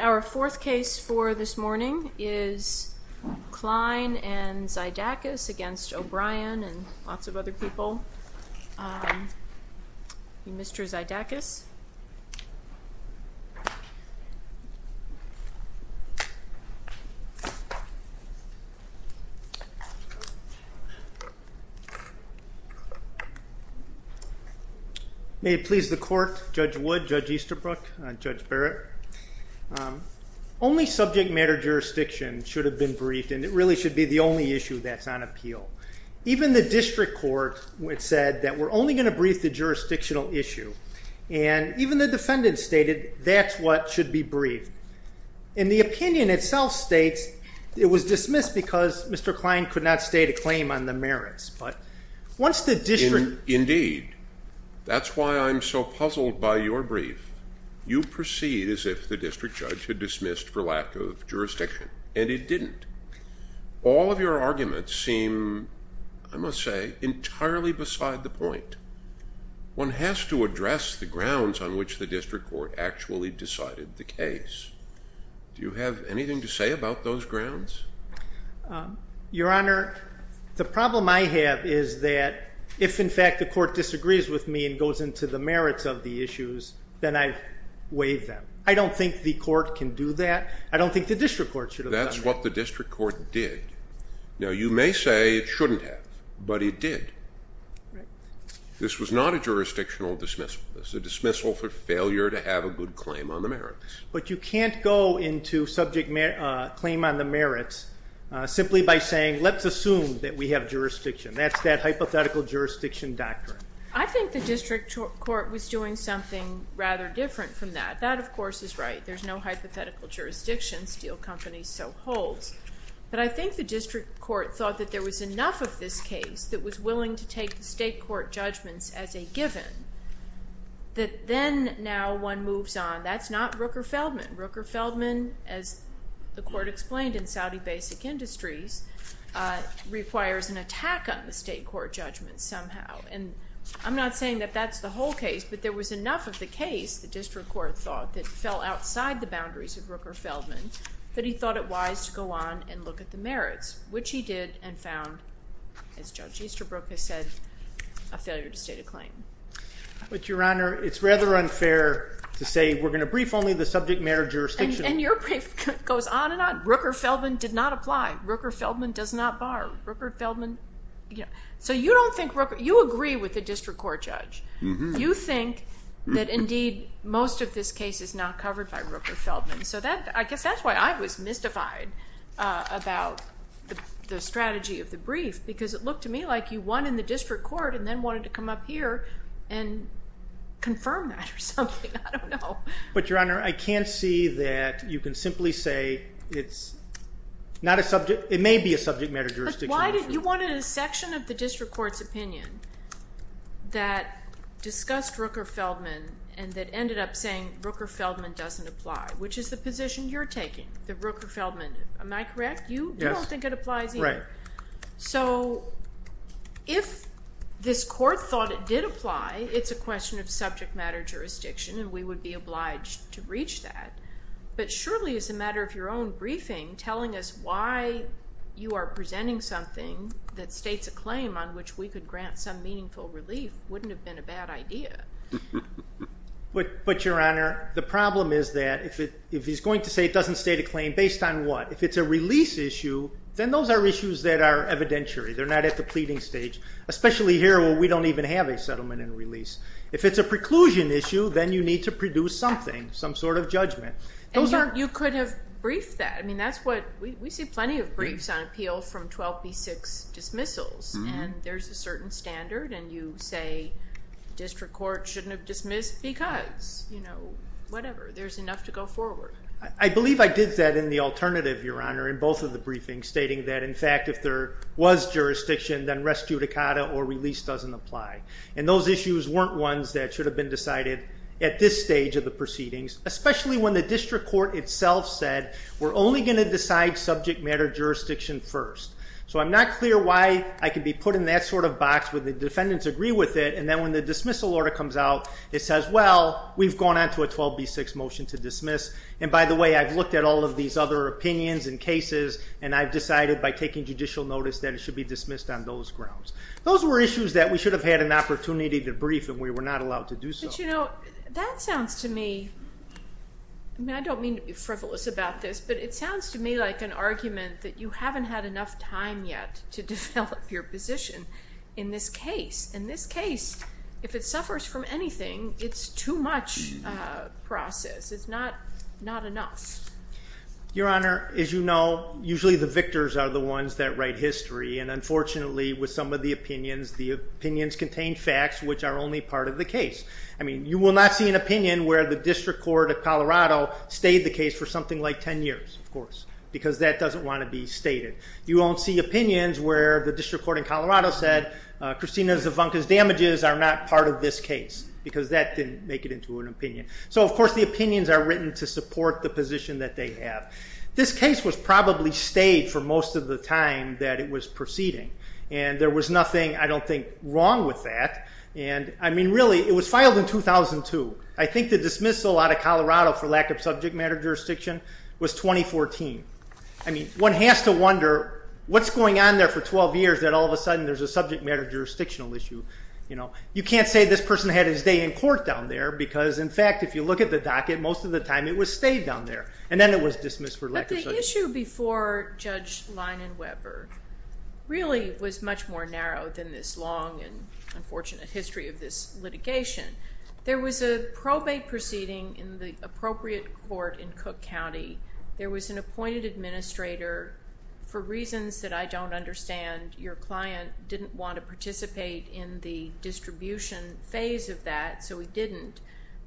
Our fourth case for this morning is Klein and Xyadakis against O'Brien and lots of other defendants. May it please the court, Judge Wood, Judge Easterbrook, Judge Barrett. Only subject matter jurisdiction should have been briefed and it really should be the only issue that's on appeal. Even the district court said that we're only going to brief the jurisdictional issue. And even the defendant stated that's what should be briefed. And the opinion itself states it was dismissed because Mr. Klein could not state a claim on the merits. But once the district... Judge Wood Indeed, that's why I'm so puzzled by your brief. You proceed as if the district judge had dismissed for lack of jurisdiction, and it didn't. All of your arguments seem, I must say, entirely beside the point. One has to address the grounds on which the district court actually decided the case. Do you have anything to say about those grounds? Judge O'Brien Your Honor, the problem I have is that if, in fact, the court disagrees with me and goes into the merits of the issues, then I waive them. I don't think the court can do that. I don't think the district court should... Now, you may say it shouldn't have, but it did. This was not a jurisdictional dismissal. It was a dismissal for failure to have a good claim on the merits. Judge Wood But you can't go into subject claim on the merits simply by saying, let's assume that we have jurisdiction. That's that hypothetical jurisdiction doctrine. Judge O'Brien I think the district court was doing something rather different from that. That, of course, is right. There's no hypothetical jurisdiction. Steel companies so holds. But I think the district court thought that there was enough of this case that was willing to take the state court judgments as a given that then now one moves on. That's not Rooker-Feldman. Rooker-Feldman, as the court explained in Saudi Basic Industries, requires an attack on the state court judgment somehow. And I'm not saying that that's the whole case, but there was enough of the case, the district court thought, that fell outside the boundaries of Rooker-Feldman that he thought it wise to go on and look at the merits, which he did and found, as Judge Easterbrook has said, a failure to state a claim. But your honor, it's rather unfair to say we're going to brief only the subject matter jurisdiction. And your brief goes on and on. Rooker-Feldman did not apply. Rooker-Feldman does not bar. Rooker-Feldman, you know, so you don't think Rooker, you agree with the district court judge. You think that indeed most of this case is not covered by Rooker-Feldman. So that, I guess that's why I was mystified about the strategy of the brief, because it looked to me like you won in the district court and then wanted to come up here and confirm that or something. I don't know. But your honor, I can't see that you can simply say it's not a subject, it may be a subject matter jurisdiction. But why did you want a section of the district court's opinion that discussed Rooker-Feldman and that ended up saying Rooker-Feldman doesn't apply, which is the position you're taking, that Rooker-Feldman, am I correct? You don't think it applies either. Right. So if this court thought it did apply, it's a question of subject matter jurisdiction and we would be obliged to reach that. But surely as a matter of your own briefing, telling us why you are presenting something that states a claim on which we could grant some meaningful relief wouldn't have been a bad idea. But your honor, the problem is that if he's going to say it doesn't state a claim based on what? If it's a release issue, then those are issues that are evidentiary. They're not at the pleading stage, especially here where we don't even have a settlement and release. If it's a preclusion issue, then you need to produce something, some sort of judgment. You could have briefed that. We see plenty of briefs on appeal from 12b6 dismissals and there's a certain standard and you say the district court shouldn't have dismissed because, you know, whatever. There's enough to go forward. I believe I did that in the alternative, your honor, in both of the briefings stating that in fact if there was jurisdiction then res judicata or release doesn't apply. And those issues weren't ones that should have been decided at this stage of the proceedings, especially when the district court itself said we're only going to decide subject matter jurisdiction first. So I'm not clear why I can be put in that sort of box where the defendants agree with it and then when the dismissal order comes out it says well we've gone on to a 12b6 motion to dismiss and by the way I've looked at all of these other opinions and cases and I've decided by taking judicial notice that it should be dismissed on those grounds. Those were issues that we should have had an opportunity to brief and we were not allowed to do so. But you know that sounds to me, I mean I don't mean to be frivolous about this, but it sounds to me like an argument that you haven't had enough time yet to develop your position in this case. In this case, if it suffers from anything, it's too much process. It's not enough. Your honor, as you know, usually the victors are the ones that write history and unfortunately with some of the opinions, the opinions contain facts which are only part of the case. I mean you will not see an opinion where the district court of Colorado stayed the case for something like 10 years of course because that doesn't want to be stated. You won't see opinions where the district court in Colorado said Christina Zavonka's damages are not part of this case because that didn't make it into an opinion. So of course the opinions are written to support the position that they have. This case was probably stayed for most of the time that it was proceeding and there was nothing I don't think wrong with that and I mean really it was filed in 2002. I think the dismissal out of Colorado for lack of subject matter jurisdiction was 2014. I mean one has to wonder what's going on there for 12 years that all of a sudden there's a subject matter jurisdictional issue. You know you can't say this person had his day in court down there because in fact if you look at the docket, most of the time it was stayed down there and then it was dismissed for lack of subject matter. But the issue before Judge Leinenweber really was much more narrow than this long and unfortunate history of this litigation. There was a probate proceeding in the appropriate court in Cook County. There was an appointed administrator for reasons that I don't understand. Your client didn't want to participate in the distribution phase of that so he didn't.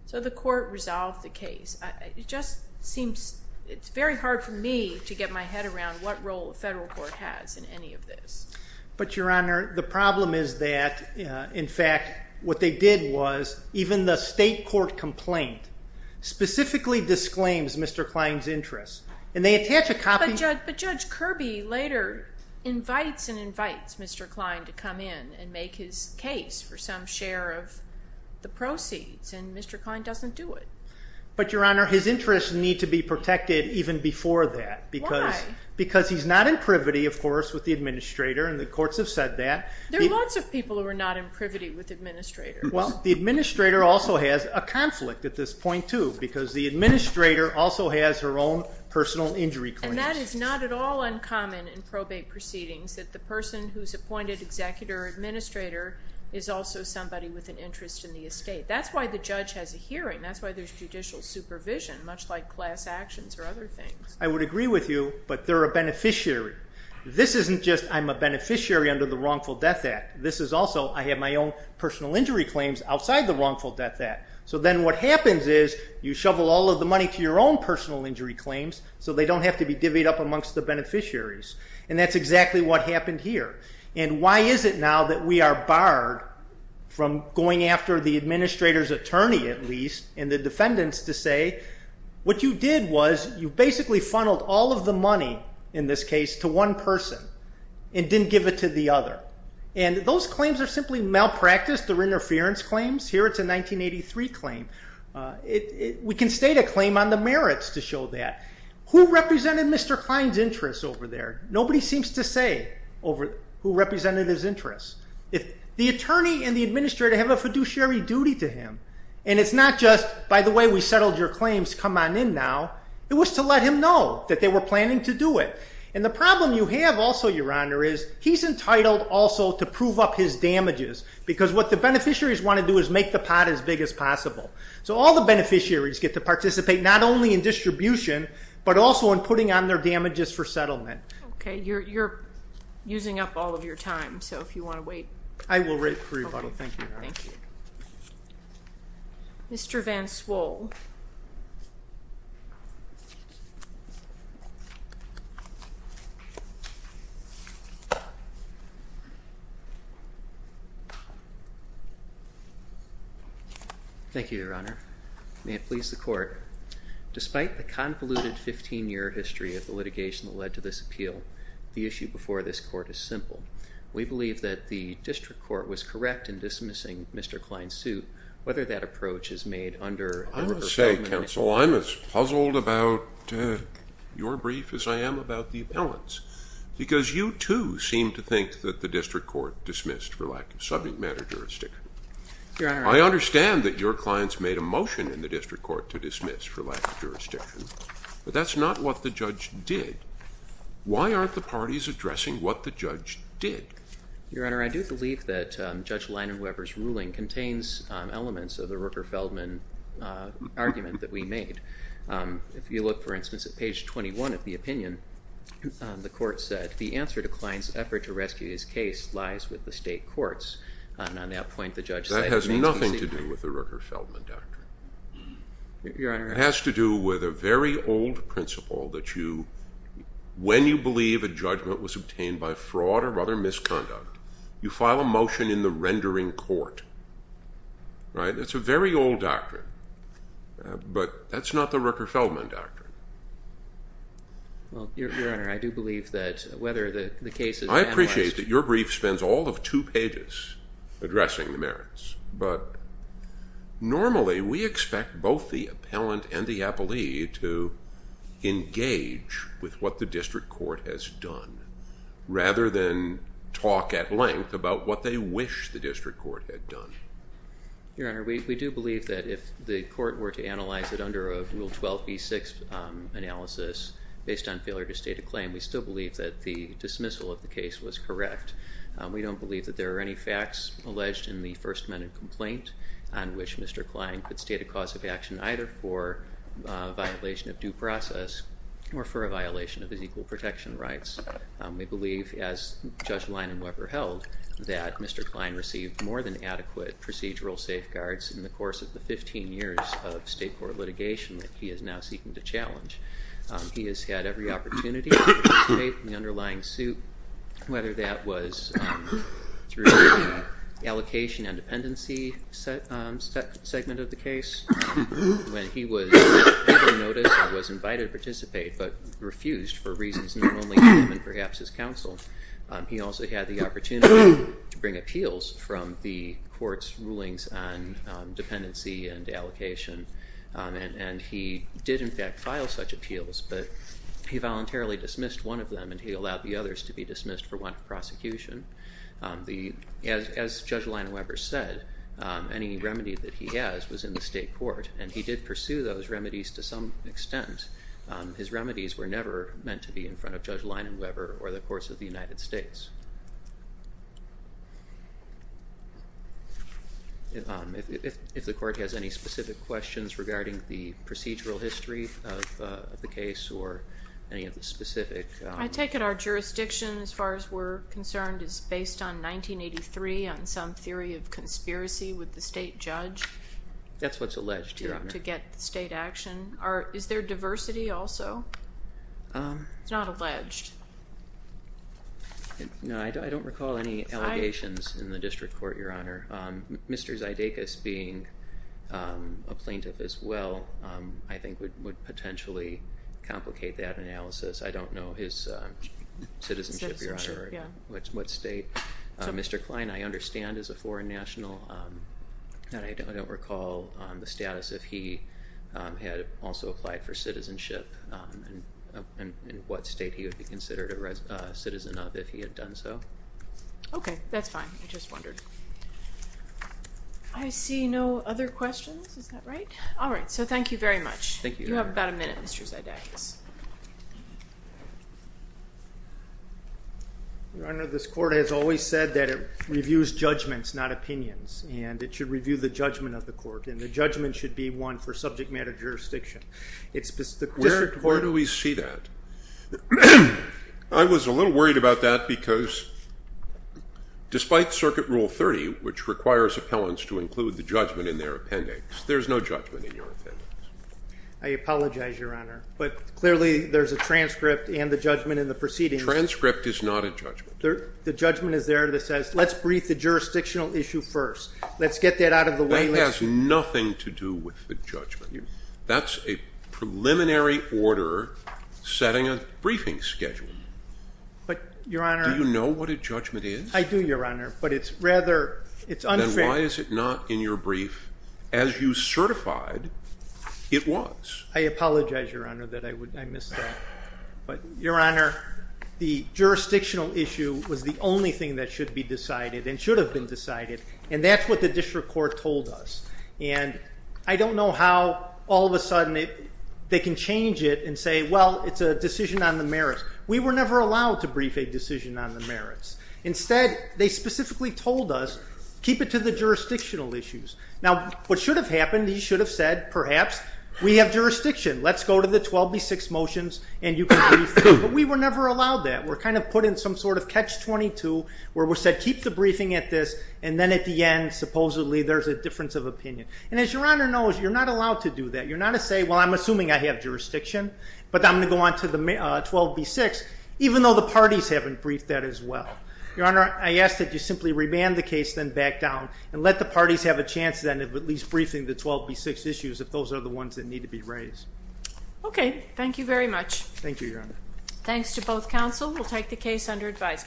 So the court resolved the case. It just seems it's very hard for me to get my head around what role the federal court has in any of this. But your honor the problem is that in fact what they did was even the state court complaint specifically disclaims Mr. Kline's interests. But Judge Kirby later invites and invites Mr. Kline to come in and make his case for some share of the proceeds and Mr. Kline doesn't do it. But your honor his interests need to be protected even before that. Why? Because he's not in privity of course with the administrator and the courts have said that. There are lots of people who are not in privity with the administrator. Well the administrator also has a conflict at this point too because the administrator also has her own personal injury claims. And that is not at all uncommon in probate proceedings that the person who's appointed executor or administrator is also somebody with an interest in the estate. That's why the judge has a hearing. That's why there's judicial supervision much like class actions or other things. I would agree with you but they're beneficiary. This isn't just I'm a beneficiary under the wrongful death act. This is also I have my own personal injury claims outside the wrongful death act. So then what happens is you shovel all of the money to your own personal injury claims so they don't have to be divvied up amongst the beneficiaries. And that's exactly what happened here. And why is it now that we are barred from going after the administrator's attorney at least and the defendants to say what you did was you basically funneled all of the money in this case to one person and didn't give it to the other. And those claims are simply malpractice. They're interference claims. Here it's a 1983 claim. We can state a claim on the merits to show that. Who represented Mr. Klein's interests over there? Nobody seems to say over who represented his interests. If the attorney and the administrator have a fiduciary duty to him and it's not just by the way we settled your claims come on in now. It was to let him know that they were planning to do it. And the problem you have also your honor is he's entitled also to prove up his damages because what the beneficiaries want to do is make the pot as big as possible. So all the beneficiaries get to participate not only in distribution but also in putting on their damages for settlement. Okay you're using up all of your time so if you want to wait. I will wait for you. Thank you. Thank you. Mr. Van Swoll. Thank you your honor. May it please the court. Despite the convoluted 15 year history of the litigation that led to this appeal the issue before this court is simple. We believe that the district court was correct in dismissing Mr. Klein's suit whether that approach is made under. I would say counsel I'm as puzzled about your brief as I am about the appellants because you too seem to think that the district court dismissed for lack of subject matter jurisdiction. Your honor I understand that your clients made a motion in the district court to dismiss for lack of jurisdiction but that's not what the judge did. Why aren't the parties addressing what the judge did. Your honor I do believe that Judge Leonard Weber's ruling contains elements of the Rooker-Feldman argument that we made. If you look for instance at page 21 of the opinion the court said the answer to Klein's effort to rescue his case lies with the state courts and on that point the judge. That has nothing to do with the Rooker-Feldman doctrine. Your honor. It has to do with a very old principle that you when you believe a judgment was obtained by fraud or other misconduct you file a motion in the rendering court right. That's a very old doctrine but that's not the Rooker-Feldman doctrine. Well your honor I do believe that whether the case is analyzed. I appreciate that your brief spends all of two pages addressing the merits but normally we expect both the appellant and the appellee to engage with what the district court has done rather than talk at length about what they wish the district court had done. Your honor we do believe that if the court were to analyze it under a rule 12b6 analysis based on failure to state a claim we still believe that the dismissal of the case was correct. We don't believe that there are any facts alleged in the first amendment complaint on which Mr. Klein could state a cause of action either for a violation of due process or for a violation of his equal protection rights. We believe as Judge Lein and Weber held that Mr. Klein received more than adequate procedural safeguards in the course of the 15 years of state court litigation that he is now seeking to challenge. He has had every opportunity in the underlying suit whether that was through the allocation and dependency segment of the case when he was able to notice and was invited to participate but refused for reasons not only him and perhaps his counsel. He also had the opportunity to bring appeals from the court's rulings on dependency and allocation and he did in fact file such appeals but he voluntarily dismissed one of them and he allowed the others to be dismissed for one prosecution. As Judge Lein and Weber said any remedy that he has was in the state court and he did pursue those remedies to some extent. His remedies were never meant to be in front of Judge Lein and Weber or the course of the United States. If the court has any specific questions regarding the procedural history of the case or any of the specific. I take it our jurisdiction as far as we're concerned is based on 1983 on some theory of conspiracy with the state judge. That's what's alleged your honor. To get the state action or is there diversity also? It's not alleged. No I don't recall any allegations in the district court your honor. Mr. Zydekis being a plaintiff as well I think would potentially complicate that analysis. I don't know his citizenship your honor. What state? Mr. Klein I understand is a foreign national and I don't recall the status if he had also applied for citizenship and what state he would consider a citizen of if he had done so. Okay that's fine I just wondered. I see no other questions is that right? All right so thank you very much. Thank you. You have about a minute Mr. Zydekis. Your honor this court has always said that it reviews judgments not opinions and it should review the judgment of the court and the judgment should be one for subject matter jurisdiction. Where do we see that? I was a little worried about that because despite circuit rule 30 which requires appellants to include the judgment in their appendix there's no judgment in your appendix. I apologize your honor but clearly there's a transcript and the judgment in the proceedings. Transcript is not a judgment. The judgment is there that says let's brief the jurisdictional issue first. Let's get that out of the way. That has nothing to do with judgment. That's a preliminary order setting a briefing schedule. But your honor. Do you know what a judgment is? I do your honor but it's rather it's unfair. Why is it not in your brief as you certified it was? I apologize your honor that I would I missed that but your honor the jurisdictional issue was the only thing that should be decided and should have been decided and that's what the district court told us and I don't know how all of a sudden they can change it and say well it's a decision on the merits. We were never allowed to brief a decision on the merits. Instead they specifically told us keep it to the jurisdictional issues. Now what should have happened he should have said perhaps we have jurisdiction let's go to the 12b6 motions and you can but we were never allowed that. We're kind of put in some sort of catch-22 where we said keep the briefing at this and then at the end supposedly there's a difference of opinion and as your honor knows you're not allowed to do that. You're not to say well I'm assuming I have jurisdiction but I'm going to go on to the 12b6 even though the parties haven't briefed that as well. Your honor I ask that you simply remand the case then back down and let the parties have a chance then of at least briefing the 12b6 issues if those are the ones that need to be raised. Okay thank you very much. Thank you your honor. Thanks to both counsel. We'll take the case under advice.